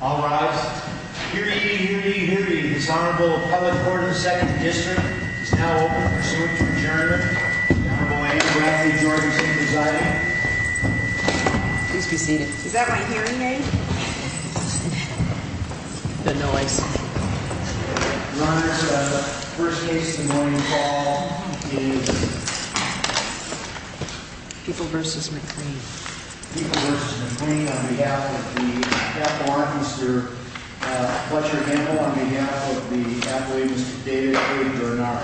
All rise. Hear ye, hear ye, hear ye. This Honorable Public Court of the Second District is now open for the pursuant to adjourn. The Honorable Andrew Rafferty, Georgia State Society. Please be seated. Is that my hearing aid? The noise. Your Honor, the first case in the morning call is People v. McClain. People v. McClain on behalf of the Capitol Orchestra. Fletcher Hamill on behalf of the athletes David Cade and Bernard.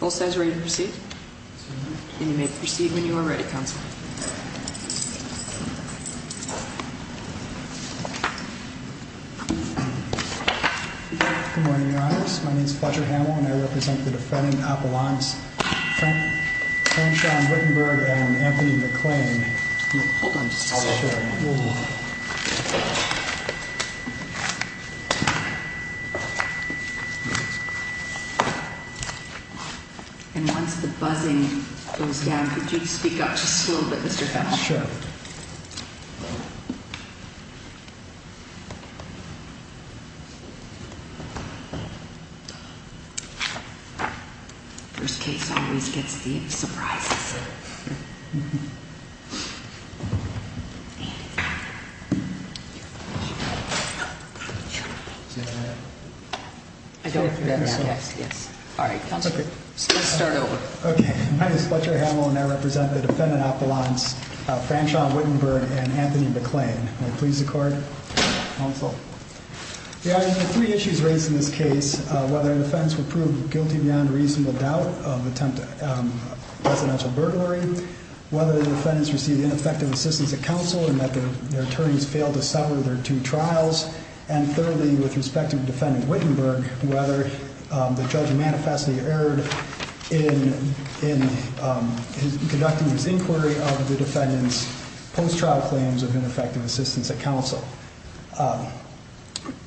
Both sides ready to proceed? And you may proceed when you are ready, Counsel. Good morning, Your Honors. My name is Fletcher Hamill and I represent the defendant Appalachians Frank John Wittenberg and Anthony McClain Hold on just a second. And once the buzzing goes down, could you speak up just a little bit, Mr. Hamill? First case always gets the surprises. Please be seated. All right, Counsel. Let's start over. My name is Fletcher Hamill and I represent the defendant Appalachians Frank John Wittenberg and Anthony McClain. May it please the Court. Your Honor, there are three issues raised in this case. First, whether the defendants were proved guilty beyond reasonable doubt of attempted residential burglary. Whether the defendants received ineffective assistance at counsel and that their attorneys failed to settle their two trials. And thirdly, with respect to defendant Wittenberg, whether the judge manifestly erred in conducting his inquiry of the defendant's post-trial claims of ineffective assistance at counsel.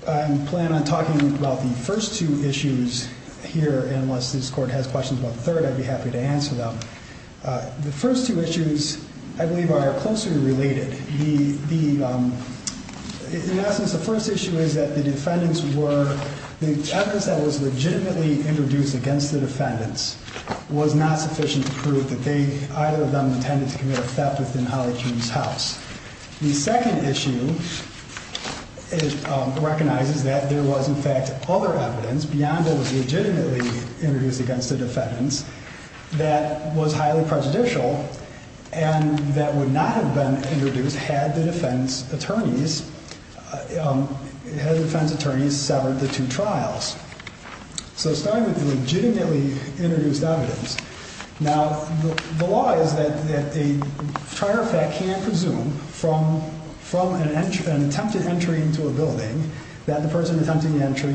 I plan on talking about the first two issues here, and unless this Court has questions about the third, I'd be happy to answer them. The first two issues I believe are closely related. In essence, the first issue is that the defendants were the evidence that was legitimately introduced against the defendants was not sufficient to prove that either of them intended to commit a theft within Holly June's house. The second issue recognizes that there was in fact other evidence beyond what was legitimately introduced against the defendants that was highly prejudicial and that would not have been introduced had the defense attorneys severed the two trials. So starting with the legitimately introduced evidence. The law is that a presumption from an attempted entry into a building that the person attempting the entry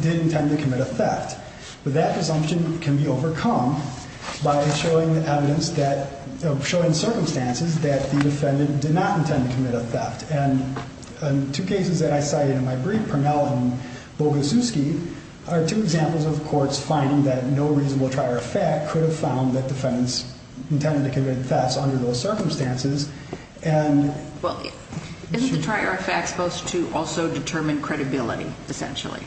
did intend to commit a theft. But that presumption can be overcome by showing circumstances that the defendant did not intend to commit a theft. Two cases that I cited in my brief, Purnell and Bogusiewski, are two examples of courts finding that no reasonable trier of fact could have found that defendants intended to commit a theft. Isn't the trier of fact supposed to also determine credibility, essentially?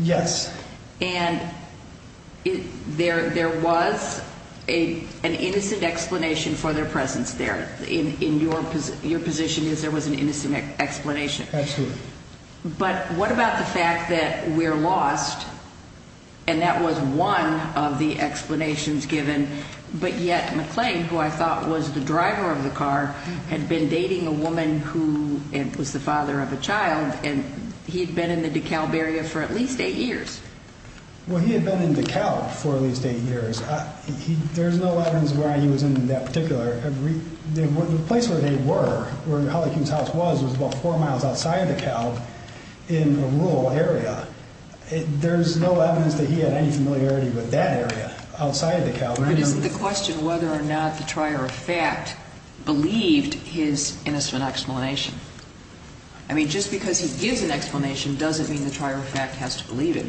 Yes. And there was an innocent explanation for their presence there. Your position is there was an innocent explanation. Absolutely. But what about the fact that we're lost and that was one of the explanations given but yet McClain, who I thought was the driver of the car, had been dating a woman who was the father of a child and he'd been in the DeKalb area for at least eight years. Well, he had been in DeKalb for at least eight years. There's no evidence of where he was in that particular... The place where they were, where Holly King's house was, was about four miles outside of DeKalb in a rural area. There's no evidence that he had any familiarity with that area outside of DeKalb. But isn't the question whether or not the trier of fact believed his innocent explanation? I mean, just because he gives an explanation doesn't mean the trier of fact has to believe it.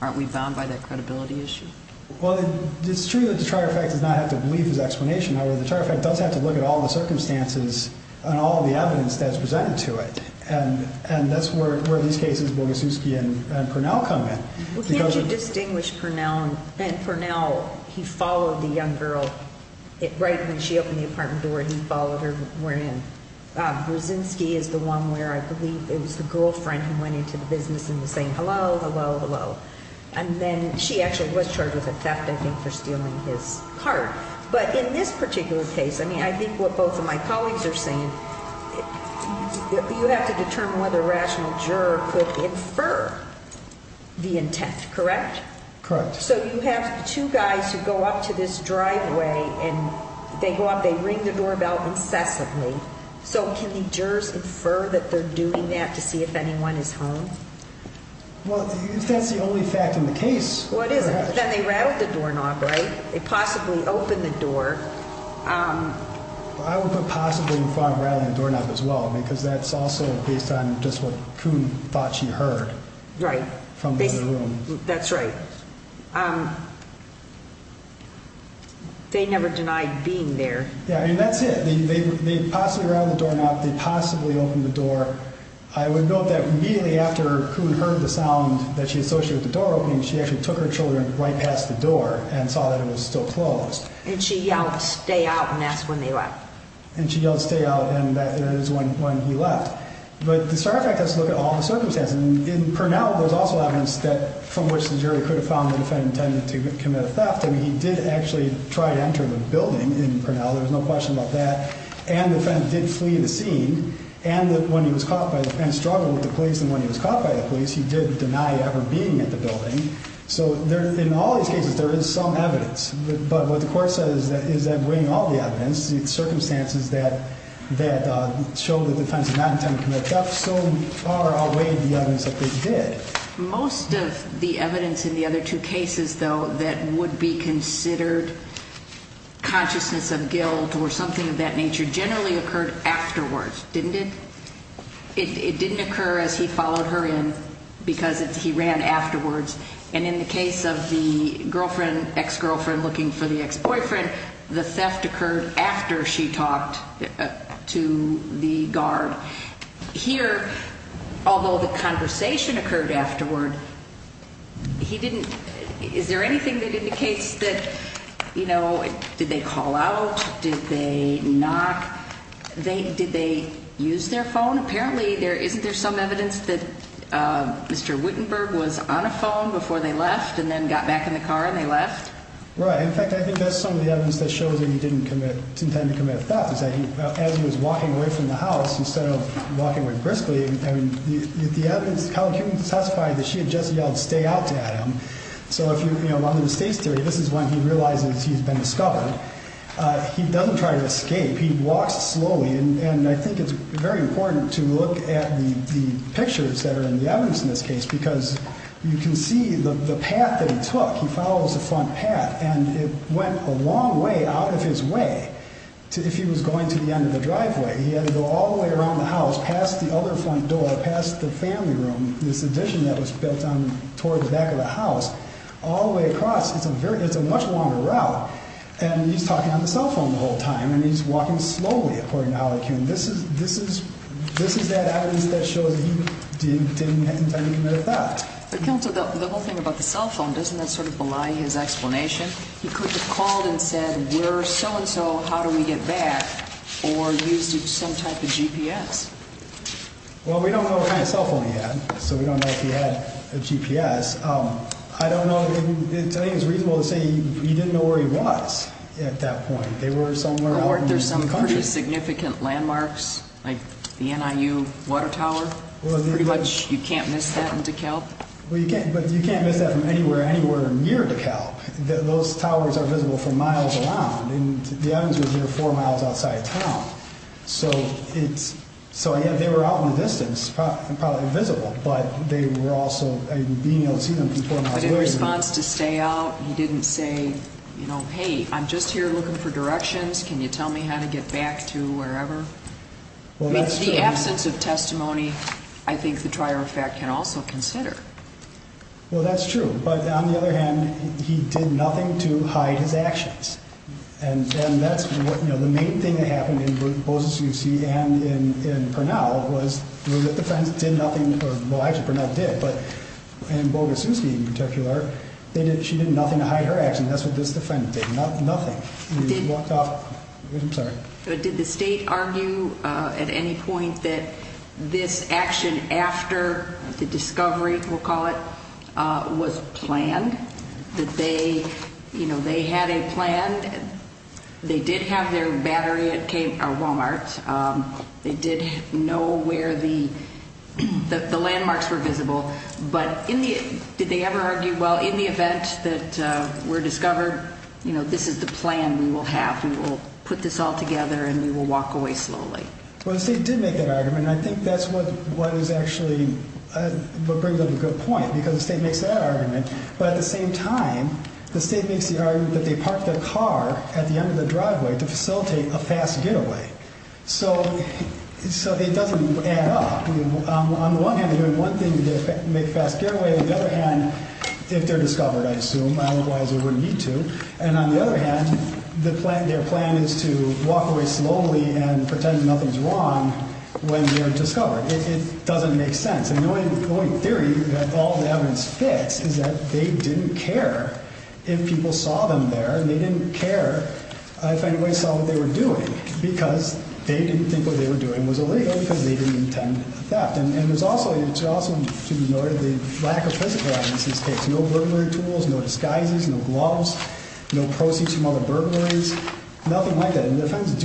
Aren't we bound by that credibility issue? Well, it's true that the trier of fact does not have to believe his explanation. However, the trier of fact does have to look at all the circumstances and all the evidence that's presented to it. And that's where these cases, Bogusiewski and Purnell, come in. Well, can't you distinguish Purnell and Purnell? He followed the young girl. Right when she opened the apartment door, he followed her in. Brzezinski is the one where I believe it was the girlfriend who went into the business and was saying, hello, hello, hello. And then she actually was charged with a theft, I think, for stealing his card. But in this particular case, I mean, I think what both of my colleagues are saying, you have to determine whether a rational juror could infer the intent. Correct? Correct. So you have two guys who go up to this driveway and they go up, they ring the doorbell incessantly. So can the jurors infer that they're doing that to see if anyone is home? Well, that's the only fact in the case. Then they rattled the doorknob, right? They possibly opened the door. I would put possibly in front of rattling the doorknob as well because that's also based on just what Coon thought she heard from the other room. Right. That's right. They never denied being there. Yeah, and that's it. They possibly rattled the doorknob, they possibly opened the door. I would note that immediately after Coon heard the sound that she associated with the door opening, she actually took her children right past the door and saw that it was still closed. And she yelled stay out and asked when they left. And she yelled stay out and that is when he left. But the Star Effect does look at all the circumstances. In Purnell there's also evidence that from which the jury could have found the defendant intended to commit a theft. I mean, he did actually try to enter the building in Purnell. There was no question about that. And the defendant did flee the scene. And when he was caught by the police, he struggled with the police. And when he was caught by the police, he did deny ever being at the building. So in all these cases, there is some evidence. But what the court says is that bringing all the evidence, the circumstances that show that the defendant did not intend to commit a theft, so far outweigh the evidence that they did. Most of the evidence in the other two cases, though, that would be considered consciousness of guilt or something of that nature generally occurred afterwards, didn't it? It didn't occur as he followed her in because he ran afterwards. And in the case of the girlfriend, ex-girlfriend looking for the ex-boyfriend, the theft occurred after she talked to the guard. Here, although the conversation occurred afterward, is there anything that indicates that, you know, did they call out? Did they knock? Did they use their phone? Apparently isn't there some evidence that Mr. Wittenberg was on a phone before they left and then got back in the car and they left? Right. In fact, I think that's some of the evidence that shows that he didn't intend to commit theft. As he was walking away from the house, instead of walking away briskly, the evidence, Colin Kuehn testified that she had just yelled, stay out, to Adam. So if you, you know, on the mistakes theory, this is when he realizes he's been discovered. He doesn't try to escape. He walks slowly and I think it's very important to look at the pictures that are in the evidence in this case because you can see the path that he took. He follows the front path and it went a long way out of his way if he was going to the end of the driveway. He had to go all the way around the house, past the other front door, past the family room, this addition that was built on, toward the back of the house, all the way across. It's a very, it's a much longer route and he's talking on the cell phone the whole time and he's walking slowly, according to Holly Kuehn. This is, this is, this is that evidence that shows he didn't intend to commit theft. But Counselor, the whole thing about the cell phone, doesn't that sort of belie his explanation? He could have called and said, where so and so, how do we get back? Or used some type of GPS. Well, we don't know what kind of cell phone he had, so we don't know if he had a GPS. I don't know if, I think it's reasonable to say he didn't know where he was at that point. They were somewhere out in the country. Or there's some pretty significant landmarks like the NIU water tower. Pretty much, you can't miss that in DeKalb. Well, you can't, but you can't miss that from anywhere, anywhere near DeKalb. Those towers are visible from miles around. And the evidence was near four miles outside town. So, it's, so they were out in the distance, probably invisible. But they were also, being able to see them from four miles away. But in response to stay out, he didn't say, you know, hey, I'm just here looking for directions, can you tell me how to get back to wherever? The absence of testimony, I think the trier of fact can also be considered. Well, that's true. But on the other hand, he did nothing to hide his actions. And that's what, you know, the main thing that happened in Bozuszewski and in Pernell was that the friends did nothing, well, actually, Pernell did, but in Boguszewski in particular, she did nothing to hide her actions. That's what this defendant did. Nothing. He walked off. I'm sorry. Did the state argue at any point that this action after the discovery, we'll call it, was planned? That they, you know, they had a plan. They did have their battery at Walmart. They did know where the landmarks were visible. But did they ever argue, well, in the event that we're discovered, you know, this is the plan we will have. We will put this all together and we will walk away slowly. Well, the state did make that argument, and I think that's what is actually, what brings up a good point, because the state makes that argument, but at the same time, the state makes the argument that they parked their car at the end of the driveway to facilitate a fast getaway. So it doesn't add up. On the one hand, they're doing one thing to make a fast getaway. On the other hand, if they're discovered, I assume, otherwise they wouldn't need to. And on the other hand, their plan is to walk away slowly and pretend nothing's wrong when they're discovered. It doesn't make sense. And the only theory that all the evidence fits is that they didn't care if people saw them there, and they didn't care if anybody saw what they were doing because they didn't think what they were doing was illegal because they didn't intend a theft. And there's also, to be noted, the lack of physical evidence in this case. No burglary tools, no disguises, no gloves, no proceeds from other burglaries, nothing like that. And the defendants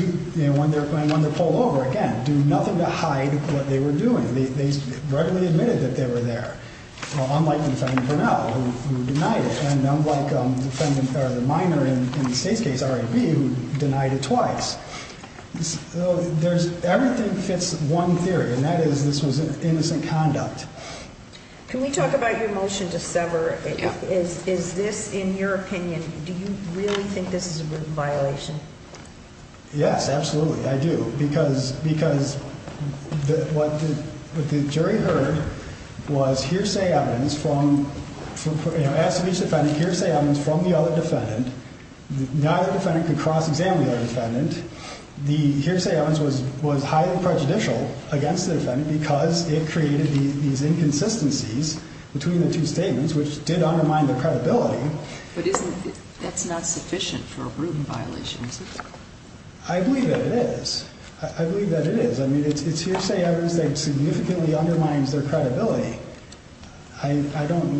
when they're pulled over, again, do nothing to hide what they were doing. They readily admitted that they were there, unlike the defendant Burnell who denied it, and unlike the minor in the State's case, R.A.B., who denied it twice. Everything fits one theory, and that is this was innocent conduct. Can we talk about your motion to sever? Is this, in your opinion, do you really think this is a violation? Yes, absolutely, I do, because what the jury heard was hearsay evidence from each defendant, hearsay evidence from the other defendant. Neither defendant could cross-examine the other defendant. The hearsay evidence was highly prejudicial against the defendant because it created these inconsistencies between the two statements, which did undermine their credibility. But that's not sufficient for a violation, is it? I believe that it is. I believe that it is. I mean, it's hearsay evidence that significantly undermines their credibility. I don't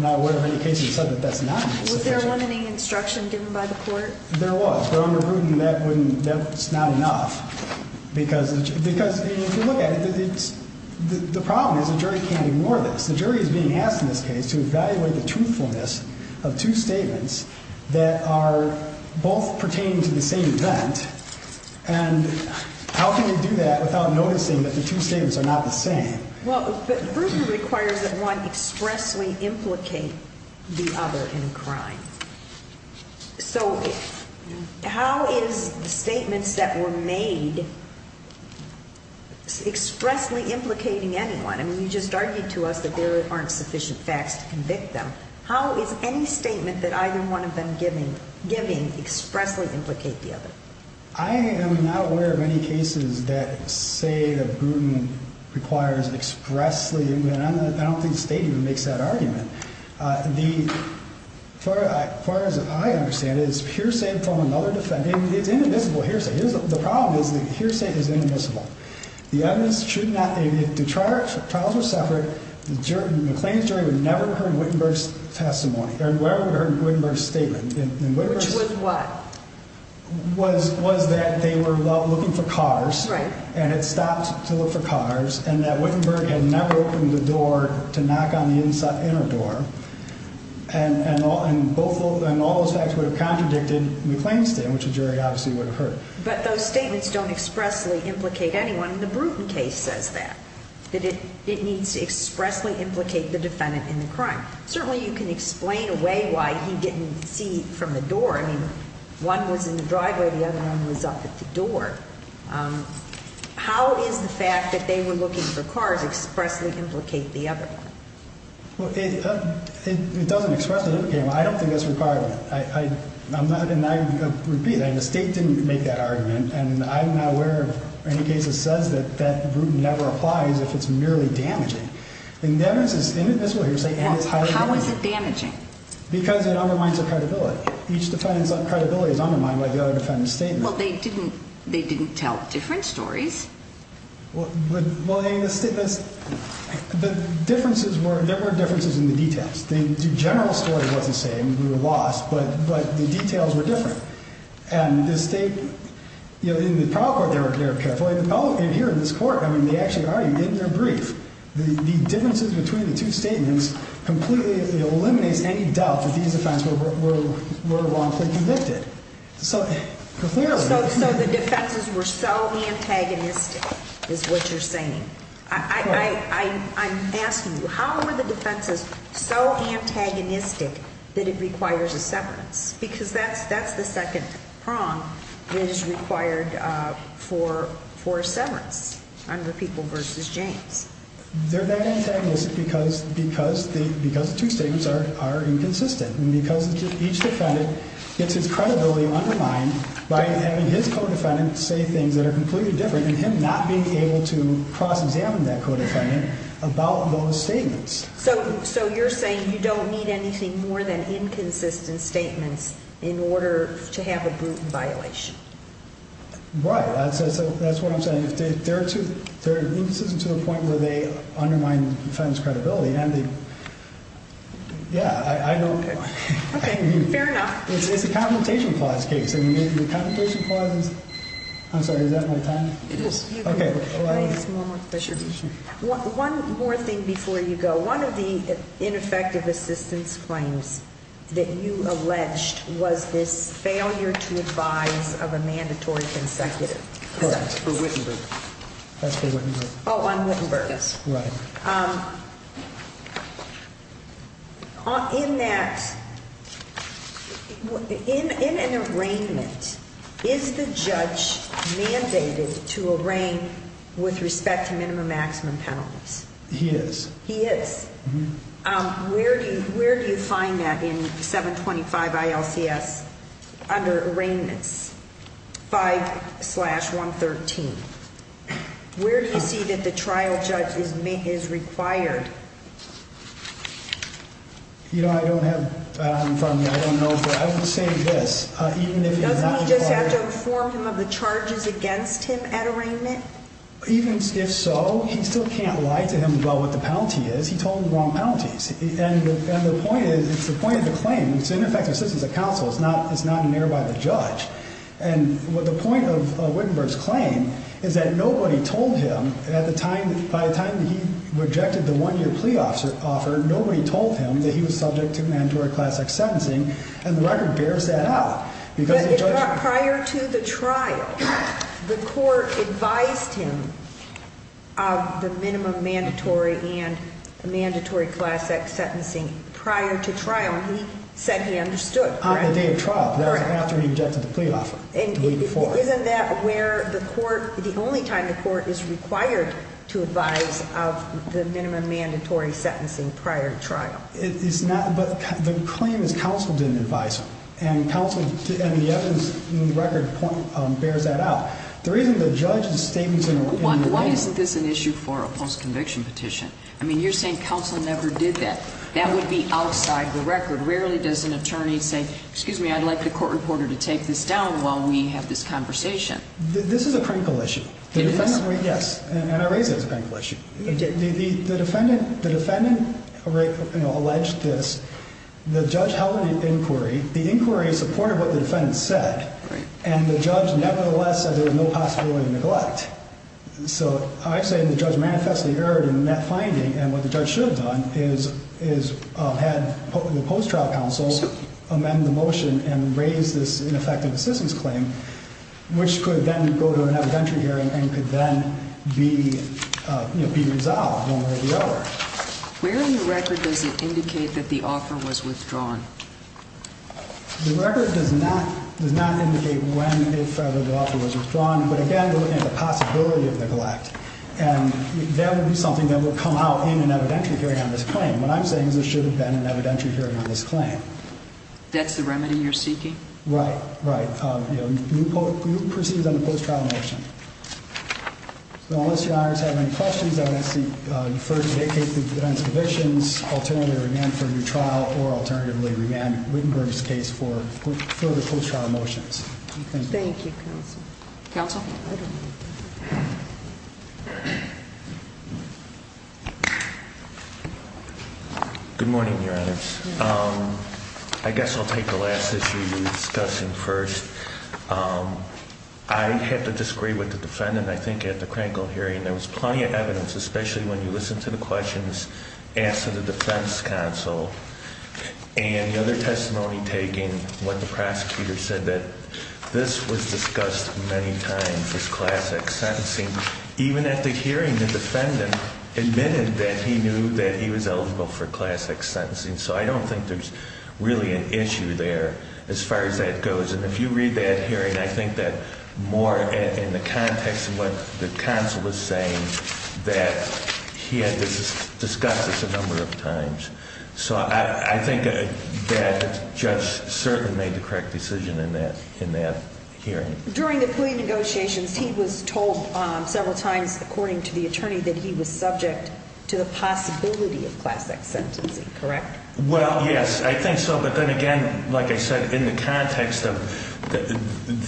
know of any cases where that's not sufficient. Was there a limiting instruction given by the court? There was, but under Rudin, that's not enough. Because if you look at it, the problem is the jury can't ignore this. The jury is being asked, in this case, to evaluate the truthfulness of two statements that are both pertaining to the same event, and how can you do that without noticing that the two statements are not the same? Well, Rudin requires that one expressly implicate the other in crime. So, how is statements that were made expressly implicating anyone? I mean, you just argued to us that there aren't sufficient facts to convict them. How is any statement that either one of them giving expressly implicate the other? I am not aware of any cases that say that Rudin requires expressly, and I don't think State even makes that argument. As far as I understand it, it's hearsay from another defendant. It's indivisible hearsay. The problem is that hearsay is that if the trials were separate, McLean's jury would never have heard Wittenberg's testimony, or would have heard Wittenberg's statement. Which was what? Was that they were looking for cars, and it stopped to look for cars, and that Wittenberg had never opened the door to knock on the inner door, and all those facts would have contradicted McLean's statement, which the jury obviously would have heard. But those statements don't expressly implicate anyone. The Bruton case says that. That it needs to expressly implicate the defendant in the crime. Certainly you can explain a way why he didn't see from the door. I mean, one was in the driveway, the other one was up at the door. How is the fact that they were looking for cars expressly implicate the other one? Well, it doesn't expressly implicate them. I don't think that's required. I'm not and I repeat, the State didn't make that statement. In any case, it says that that Bruton never applies if it's merely damaging. The evidence is inadmissible here. How is it damaging? Because it undermines the credibility. Each defendant's credibility is undermined by the other defendant's statement. Well, they didn't tell different stories. Well, the differences were there were differences in the details. The general story was the same. We were lost, but the details were different. And the State in the trial court, they were careful. Oh, and here in this court, I mean, they actually argued in their brief. The differences between the two statements completely eliminates any doubt that these defendants were wrongfully convicted. So the defenses were so antagonistic is what you're saying. I'm asking you, how were the defenses so antagonistic that it requires a severance? Because that's the second prong that is required for a severance under People v. James. They're that antagonistic because the two statements are inconsistent. And because each defendant gets his credibility undermined by having his co-defendant say things that are completely different and him not being able to cross-examine that co-defendant about those statements. So you're saying you don't need anything more than to have a brutal violation. Right. That's what I'm saying. There are instances to the point where they undermine the defendant's credibility. Yeah, I don't... Okay, fair enough. It's a Confrontation Clause case. The Confrontation Clause is... I'm sorry, is that my time? It is. One more thing before you go. One of the ineffective assistance claims that you have is a failure to advise of a mandatory consecutive sentence. That's for Wittenberg. Oh, on Wittenberg. Right. In that... In an arraignment, is the judge mandated to arraign with respect to minimum-maximum penalties? He is. He is. Where do you find that in 725 ILCS under arraignments 5-113? Where do you see that the trial judge is required? You know, I don't have... I would say this. Doesn't he just have to inform him of the charges against him at arraignment? Even if so, he still can't lie to him about what the penalty is. He told him the wrong penalties. And the point is, it's the point of the claim. It's ineffective assistance of counsel. It's not an error by the judge. And the point of Wittenberg's claim is that nobody told him at the time, by the time he rejected the one-year plea offer, nobody told him that he was subject to mandatory classic sentencing, and the record bears that out. Prior to the trial, the court advised him of the minimum mandatory and mandatory classic sentencing prior to trial, and he said he understood. On the day of trial. That was after he rejected the plea offer. Way before. And isn't that where the court, the only time the court is required to advise of the minimum mandatory sentencing prior to trial? It's not, but the claim is counsel didn't advise him, and counsel and the evidence in the record bears that out. The reason the judge is stating... Why isn't this an issue for a post-conviction petition? I mean, you're saying counsel never did that. That would be outside the record. Rarely does an attorney say, excuse me, I'd like the court reporter to take this down while we have this conversation. This is a crinkle issue. Yes, and I raise it as a crinkle issue. The defendant alleged this. The judge held an inquiry. The inquiry supported what the defendant said, and the judge nevertheless said there was no possibility of neglect. So I'm actually saying the judge manifestly erred in that finding, and what the judge should have done is had the post-trial counsel amend the motion and raise this ineffective assistance claim, which could then go to an evidentiary hearing and could then be resolved one way or the other. Where in the record does it indicate that the offer was withdrawn? The record does not indicate when, if ever, the offer was withdrawn, but again, we're looking at the possibility of neglect. That would be something that would come out in an evidentiary hearing on this claim. What I'm saying is there should have been an evidentiary hearing on this claim. That's the remedy you're seeking? Right, right. You proceed on the post-trial motion. Unless your honors have any questions, I would ask that you first vacate the defendant's convictions, alternatively remand for a new trial, or alternatively remand Wittenberg's case for further post-trial motions. Thank you, counsel. Counsel? Good morning, your honors. I guess I'll take the last issue you were discussing first. I have to disagree with the defendant. I think at the Krankel hearing, there was plenty of evidence, especially when you listened to the questions asked of the defense counsel and the other testimony taken, when the prosecutor said that this was discussed many times as classic sentencing. Even at the hearing, the defendant admitted that he knew that he was eligible for classic sentencing. So I don't think there's really an issue there as far as that goes. And if you read that hearing, I think that more in the context of what the counsel was saying, that he had discussed this a number of times. So I think that judge certainly made the correct decision in that hearing. During the plea negotiations, he was told several times, according to the attorney, that he was subject to the possibility of classic sentencing, correct? Well, yes, I think so. But then again, like I said, in the context of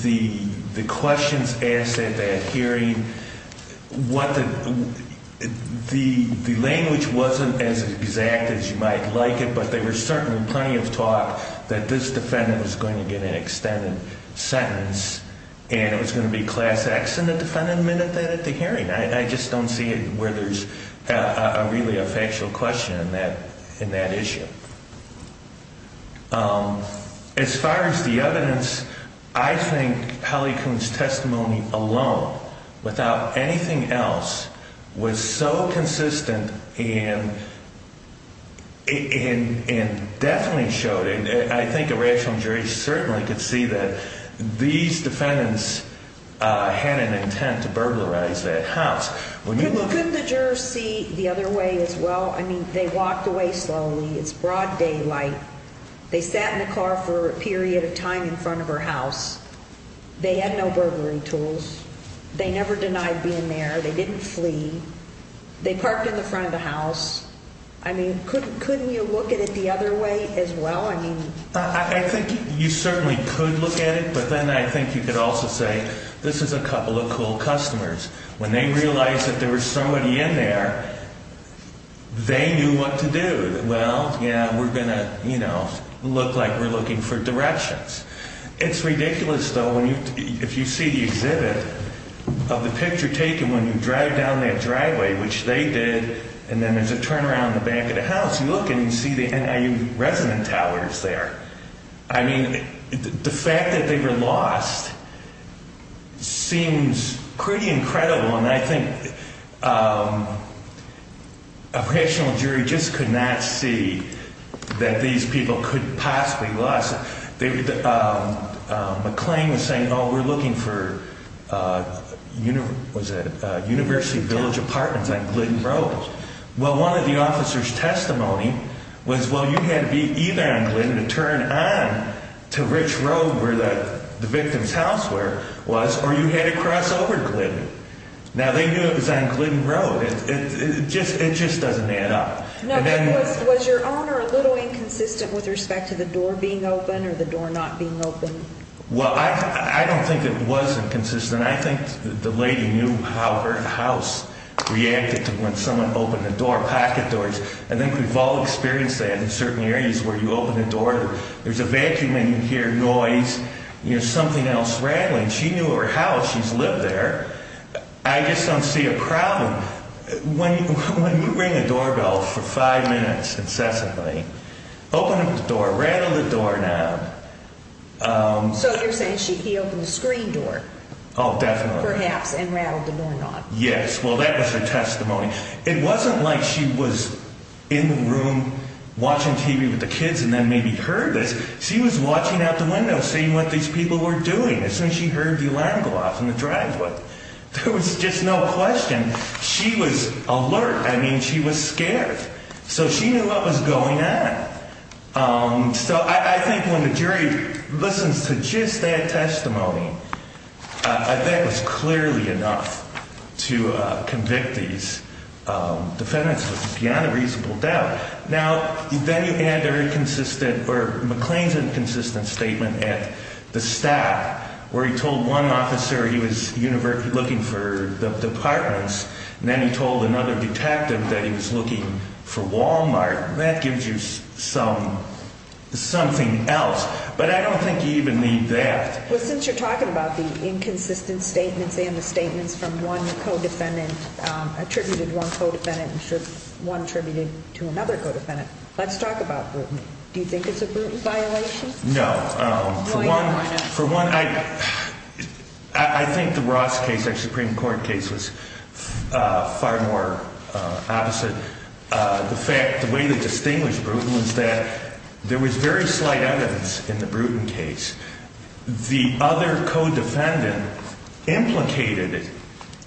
the questions asked at that hearing, the language wasn't as I mean, there was plenty of talk that this defendant was going to get an extended sentence, and it was going to be class X in the defendant admitted that at the hearing. I just don't see it where there's really a factual question in that issue. As far as the evidence, I think Hallie Kuhn's testimony alone, without anything else, was so consistent and definitely showed it. I think a rational jury certainly could see that these defendants had an intent to burglarize that house. Couldn't the jurors see the other way as well? I mean, they walked away slowly. It's broad daylight. They sat in the car for a period of time in front of her house. They had no burglary tools. They never denied being there. They didn't flee. They parked in the front of the house. I mean, couldn't you look at it the other way as well? I think you certainly could look at it, but then I think you could also say, this is a couple of cool customers. When they realized that there was somebody in there, they knew what to do. Well, yeah, we're going to look like we're looking for directions. It's ridiculous, though, if you see the exhibit of the picture taken when you drive down that driveway, which they did, and then there's a turnaround in the back of the house. You look and you see the NIU resident towers there. I mean, the fact that they were lost seems pretty incredible, and I think a rational jury just could not see that these people could possibly lost. McClain was saying, oh, we're looking for university village apartments on Glidden Road. Well, one of the officers' testimony was, well, you had to be either on Glidden to turn on to Rich Road where the victim's house was, or you had to cross over to Glidden. Now, they knew it was on Glidden Road. It just doesn't add up. Was your owner a little inconsistent with respect to the door being open or the door not being open? Well, I don't think it was inconsistent. I think the lady knew how her house reacted to when someone opened the door, pocket doors. I think we've all experienced that in certain areas where you open the door, there's a vacuum in here, noise, you know, something else rattling. She knew her house. She's lived there. I just don't see a problem. When you ring a doorbell for five minutes incessantly, open up the door, rattle the doorknob. So you're saying he opened the screen door? Oh, definitely. Perhaps, and rattled the doorknob. Yes. Well, that was her testimony. It wasn't like she was in the room watching TV with the kids and then maybe heard this. She was watching out the window, seeing what these people were doing as soon as she heard the alarm go off in the driveway. There was just no question. She was alert. I mean, she was scared. So she knew what was going on. So I think when the jury listens to just that testimony, that was clearly enough to convict these defendants with beyond a reasonable doubt. Now, then you add McLean's inconsistent statement at the staff, where he told one officer he was looking for the apartments, and then he told another detective that he was looking for Walmart. That gives you something else. But I don't think you even need that. Well, since you're talking about the inconsistent statements and the statements from one co-defendant, attributed to one co-defendant and one attributed to another co-defendant, let's talk about Bruton. Do you think it's a Bruton violation? No. For one, I think the Ross case, our Supreme Court case, was far more opposite. The way they distinguished Bruton was that there was very slight evidence in the Bruton case. The other co-defendant implicated it.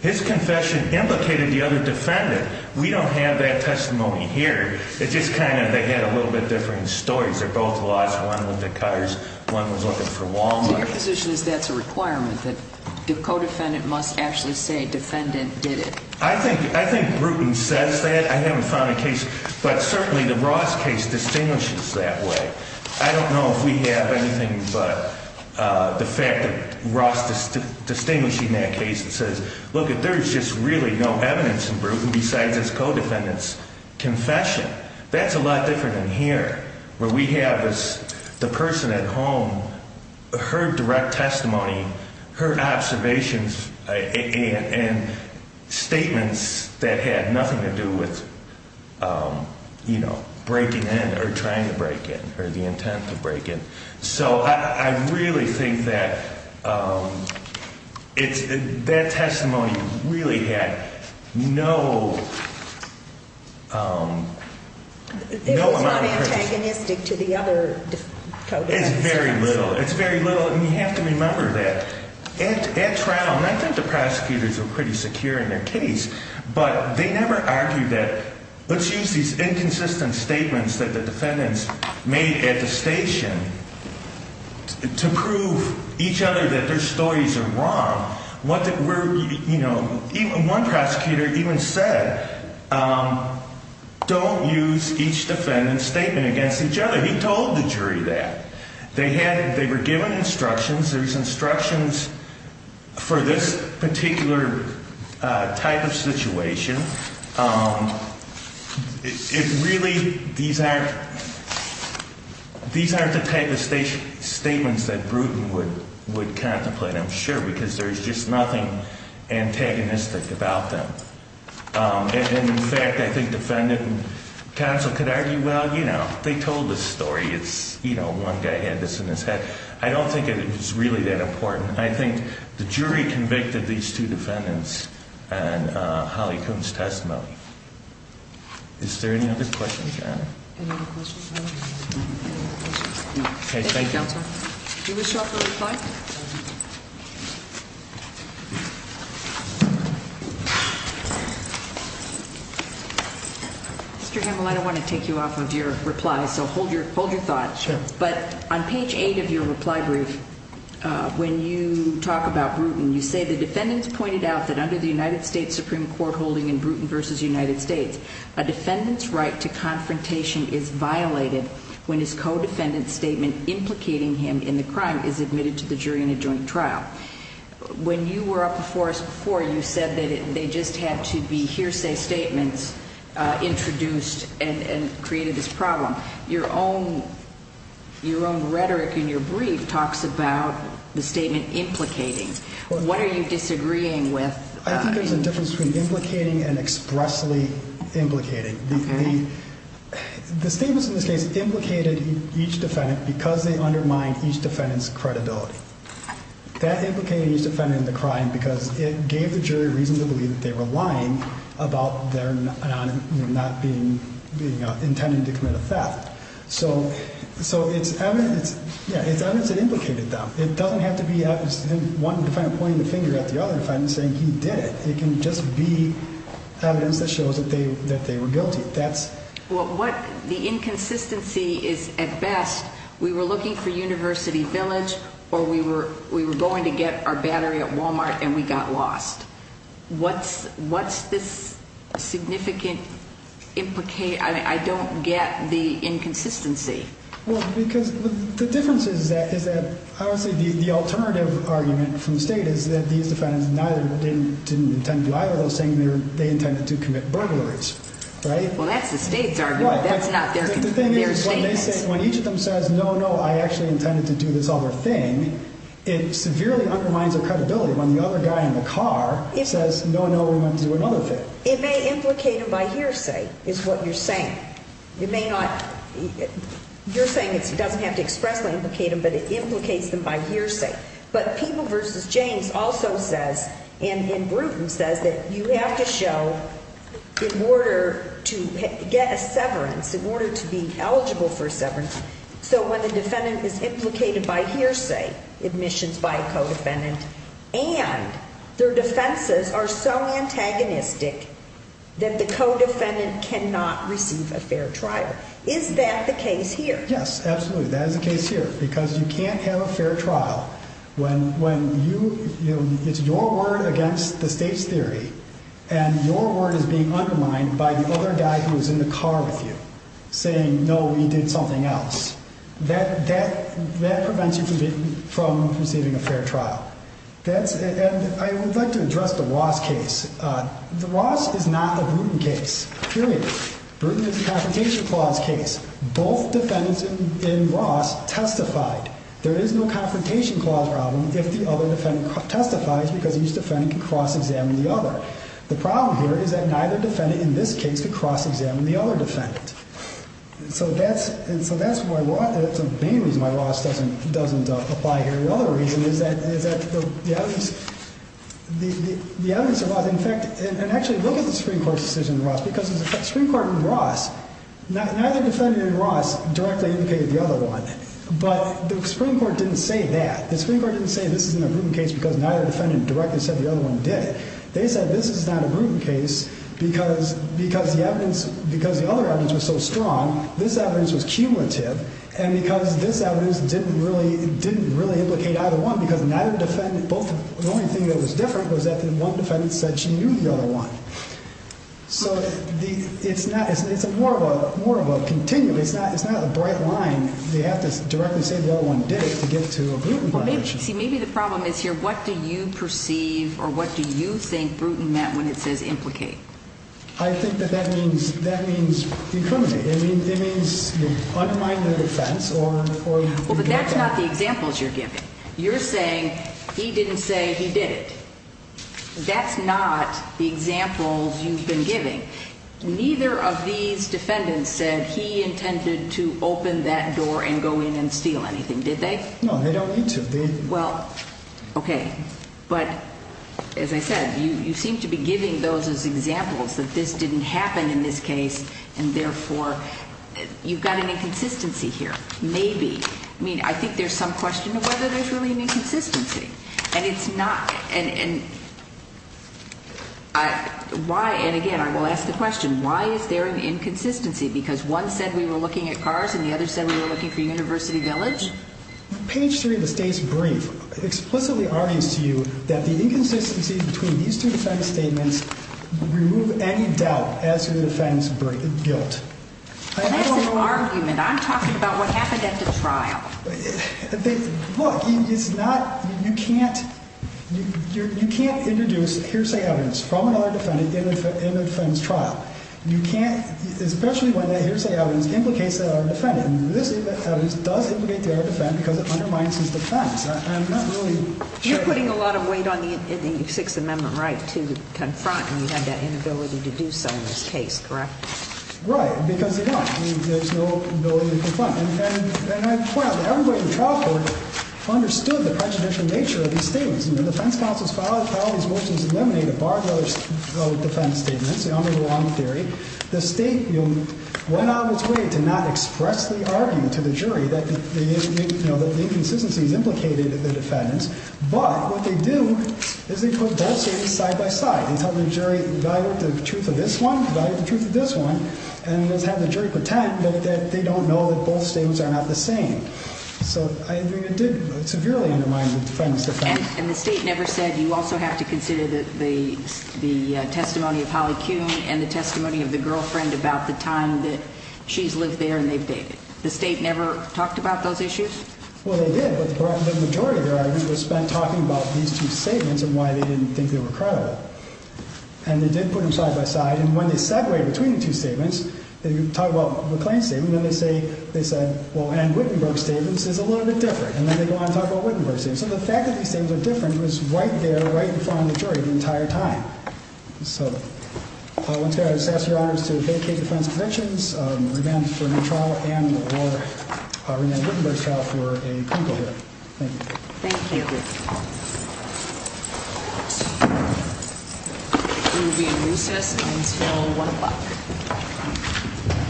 His confession implicated the other defendant. We don't have that testimony here. It's just kind of they had a little bit different stories. They both lost one with the cars, one was looking for Walmart. So your position is that's a requirement that the co-defendant must actually say defendant did it. I think Bruton says that. I haven't found a case, but certainly the Ross case distinguishes that way. I don't know if we have anything but the fact that Ross distinguishing that case and says, look, there's just really no evidence in Bruton besides his co-defendant's confession. That's a lot different than here where we have the person at home, her direct testimony, her observations and statements that had nothing to do with breaking in or trying to break in or the intent to break in. I really think that that testimony really had no It was not antagonistic to the other defendants. You have to remember that at trial, and I think the prosecutors were pretty secure in their case, but they never argued that let's use these inconsistent statements that the defendants made at the station to prove each other that their stories are wrong. One prosecutor even said don't use each defendant's statement against each other. But he told the jury that. They were given instructions. There were instructions for this particular type of situation. It really these aren't the type of statements that Bruton would contemplate, I'm sure, because there's just nothing antagonistic about them. And in fact, I think defendant and counsel could argue, well, you know, they told the story. It's, you know, one guy had this in his head. I don't think it's really that important. I think the jury convicted these two defendants on Holly Kuhn's testimony. Is there any other questions, Your Honor? Any other questions? No. Thank you, counsel. Do you wish to offer a reply? Mr. Himel, I don't want to take you off of your reply. So hold your thought. Sure. But on page 8 of your reply brief, when you talk about Bruton, you say the defendants pointed out that under the United States Supreme Court holding in Bruton v. United States, a defendant's right to confrontation is violated when his in the crime is admitted to the jury. Is that true? Yes. So the defendant's right to when he is admitted to the jury in a joint trial. When you were up before us before, you said that they just had to be hearsay statements introduced and created this problem. Your own rhetoric in your brief talks about the statement implicating. What are you disagreeing with? I think there's a difference between implicated each defendant because they undermine each defendant's credibility. That implicated each defendant in the crime because it gave the jury reason to believe that they were lying about their not being intended to commit a theft. So it's evidence that implicated them. It doesn't have to be one defendant pointing the finger at the other defendant saying he did it. It can just be evidence that shows that they were guilty. The inconsistency is at best we were looking for University Village or we were going to get our battery at Walmart and we got lost. What's this significant implication? I don't get the inconsistency. The difference is that the alternative argument from the state is that these defendants neither didn't intend to lie or they were saying they intended to commit burglaries. That's the state's argument. When each of them says no, no, I actually intended to do this other thing it severely undermines their credibility when the other guy in the car says no, no, we want to do another thing. It may implicate them by hearsay is what you're saying. You're saying it doesn't have to expressly implicate them but it implicates them by hearsay. But People v. James also says and Bruton says that you have to show in order to get a severance, in order to be eligible for a severance, so when the defendant is implicated by hearsay admissions by a co-defendant and their defenses are so antagonistic that the co-defendant cannot receive a fair trial. Is that the case here? Yes, absolutely. That is the case here because you can't have a fair trial when it's your word against the state's theory and your word is being undermined by the other guy who is in the car with you saying no, we did something else. That prevents you from receiving a fair trial. I would like to address the Ross case. The Ross is not a Bruton case, period. Bruton is a Confrontation Clause case. Both defendants in Ross testified. There is no Confrontation Clause problem if the other defendant testifies because each defendant can cross-examine the other. The problem here is that neither defendant in this case could cross-examine the other defendant. That's the main reason why Ross doesn't apply here. The other reason is that the evidence of Ross in fact, and actually look at the Supreme Court's decision in Ross because the Supreme Court in Ross neither defendant in Ross directly indicated the other one, but the other defendants said this is not a Bruton case because neither defendant directly said the other one did it. They said this is not a Bruton case because the other evidence was so strong, this evidence was cumulative, and because this evidence didn't really implicate either one because the only thing that was different was that one defendant said she knew the other one. It's more of a continuum. It's not a bright line. They have to directly say the other one did it to get to a Bruton violation. Maybe the problem is here. What do you perceive or what do you think Bruton meant when it says implicate? I think that that means incriminate. It means undermine the defense or Well, but that's not the examples you're giving. You're saying he didn't say he did it. That's not the examples you've been giving. Neither of these defendants said he intended to open that door and go in and steal anything. Did they? No, they don't need to. Well, okay. But as I said, you seem to be giving those as examples that this didn't happen in this case and therefore you've got an inconsistency here. Maybe. I mean, I think there's some question of whether there's really an inconsistency. And it's not. And again, I will ask the question. Why is there an inconsistency? Because one said we were looking at cars and the other said we were looking for University Village? Page three of the state's brief explicitly argues to you that the inconsistency between these two defense statements remove any doubt as to the defendant's guilt. Well, that's an argument. I'm talking about what happened at the trial. Look, it's not. You can't introduce hearsay evidence from another defendant in the defendant's trial. You can't, especially when that hearsay evidence implicates the other defendant. This evidence does implicate the other defendant because it undermines his defense. I'm not really sure. You're putting a lot of weight on the Sixth Amendment right to confront and you have that inability to do so in this case, correct? Right, because they don't. There's no ability to confront. And I point out that everybody in the trial court understood the prejudicial nature of these statements. The defense counsels filed these motions to eliminate a bar of defense statements. The only wrong theory. The State went out of its way to not express the argument to the jury that the inconsistency is implicated in the defendants, but what they do is they put both statements side by side. They tell the jury evaluate the truth of this one, evaluate the truth of this one, and let's have the jury pretend that they don't know that both statements are not the same. It did severely undermine the defendant's defense. And the State never said you also have to consider the testimony of Holly Kuhn and the testimony of the girlfriend about the time that she's lived there and they've dated. The State never talked about those issues? Well, they did, but the majority of their argument was spent talking about these two statements and why they didn't think they were credible. And they did put them side by side, and when they separated between the two statements, they talked about McLean's statement, then they said well, and Wittenberg's statement is a little bit different, and then they go on and talk about Wittenberg's statement. So the fact that these things are different was right there, right in front of the jury the entire time. So, once again, I just ask your honors to vacate the defense conventions, remand for new trial and or remand Wittenberg's trial for a clinical hearing. Thank you. Thank you. Thank you. We will be in recess until 1 o'clock.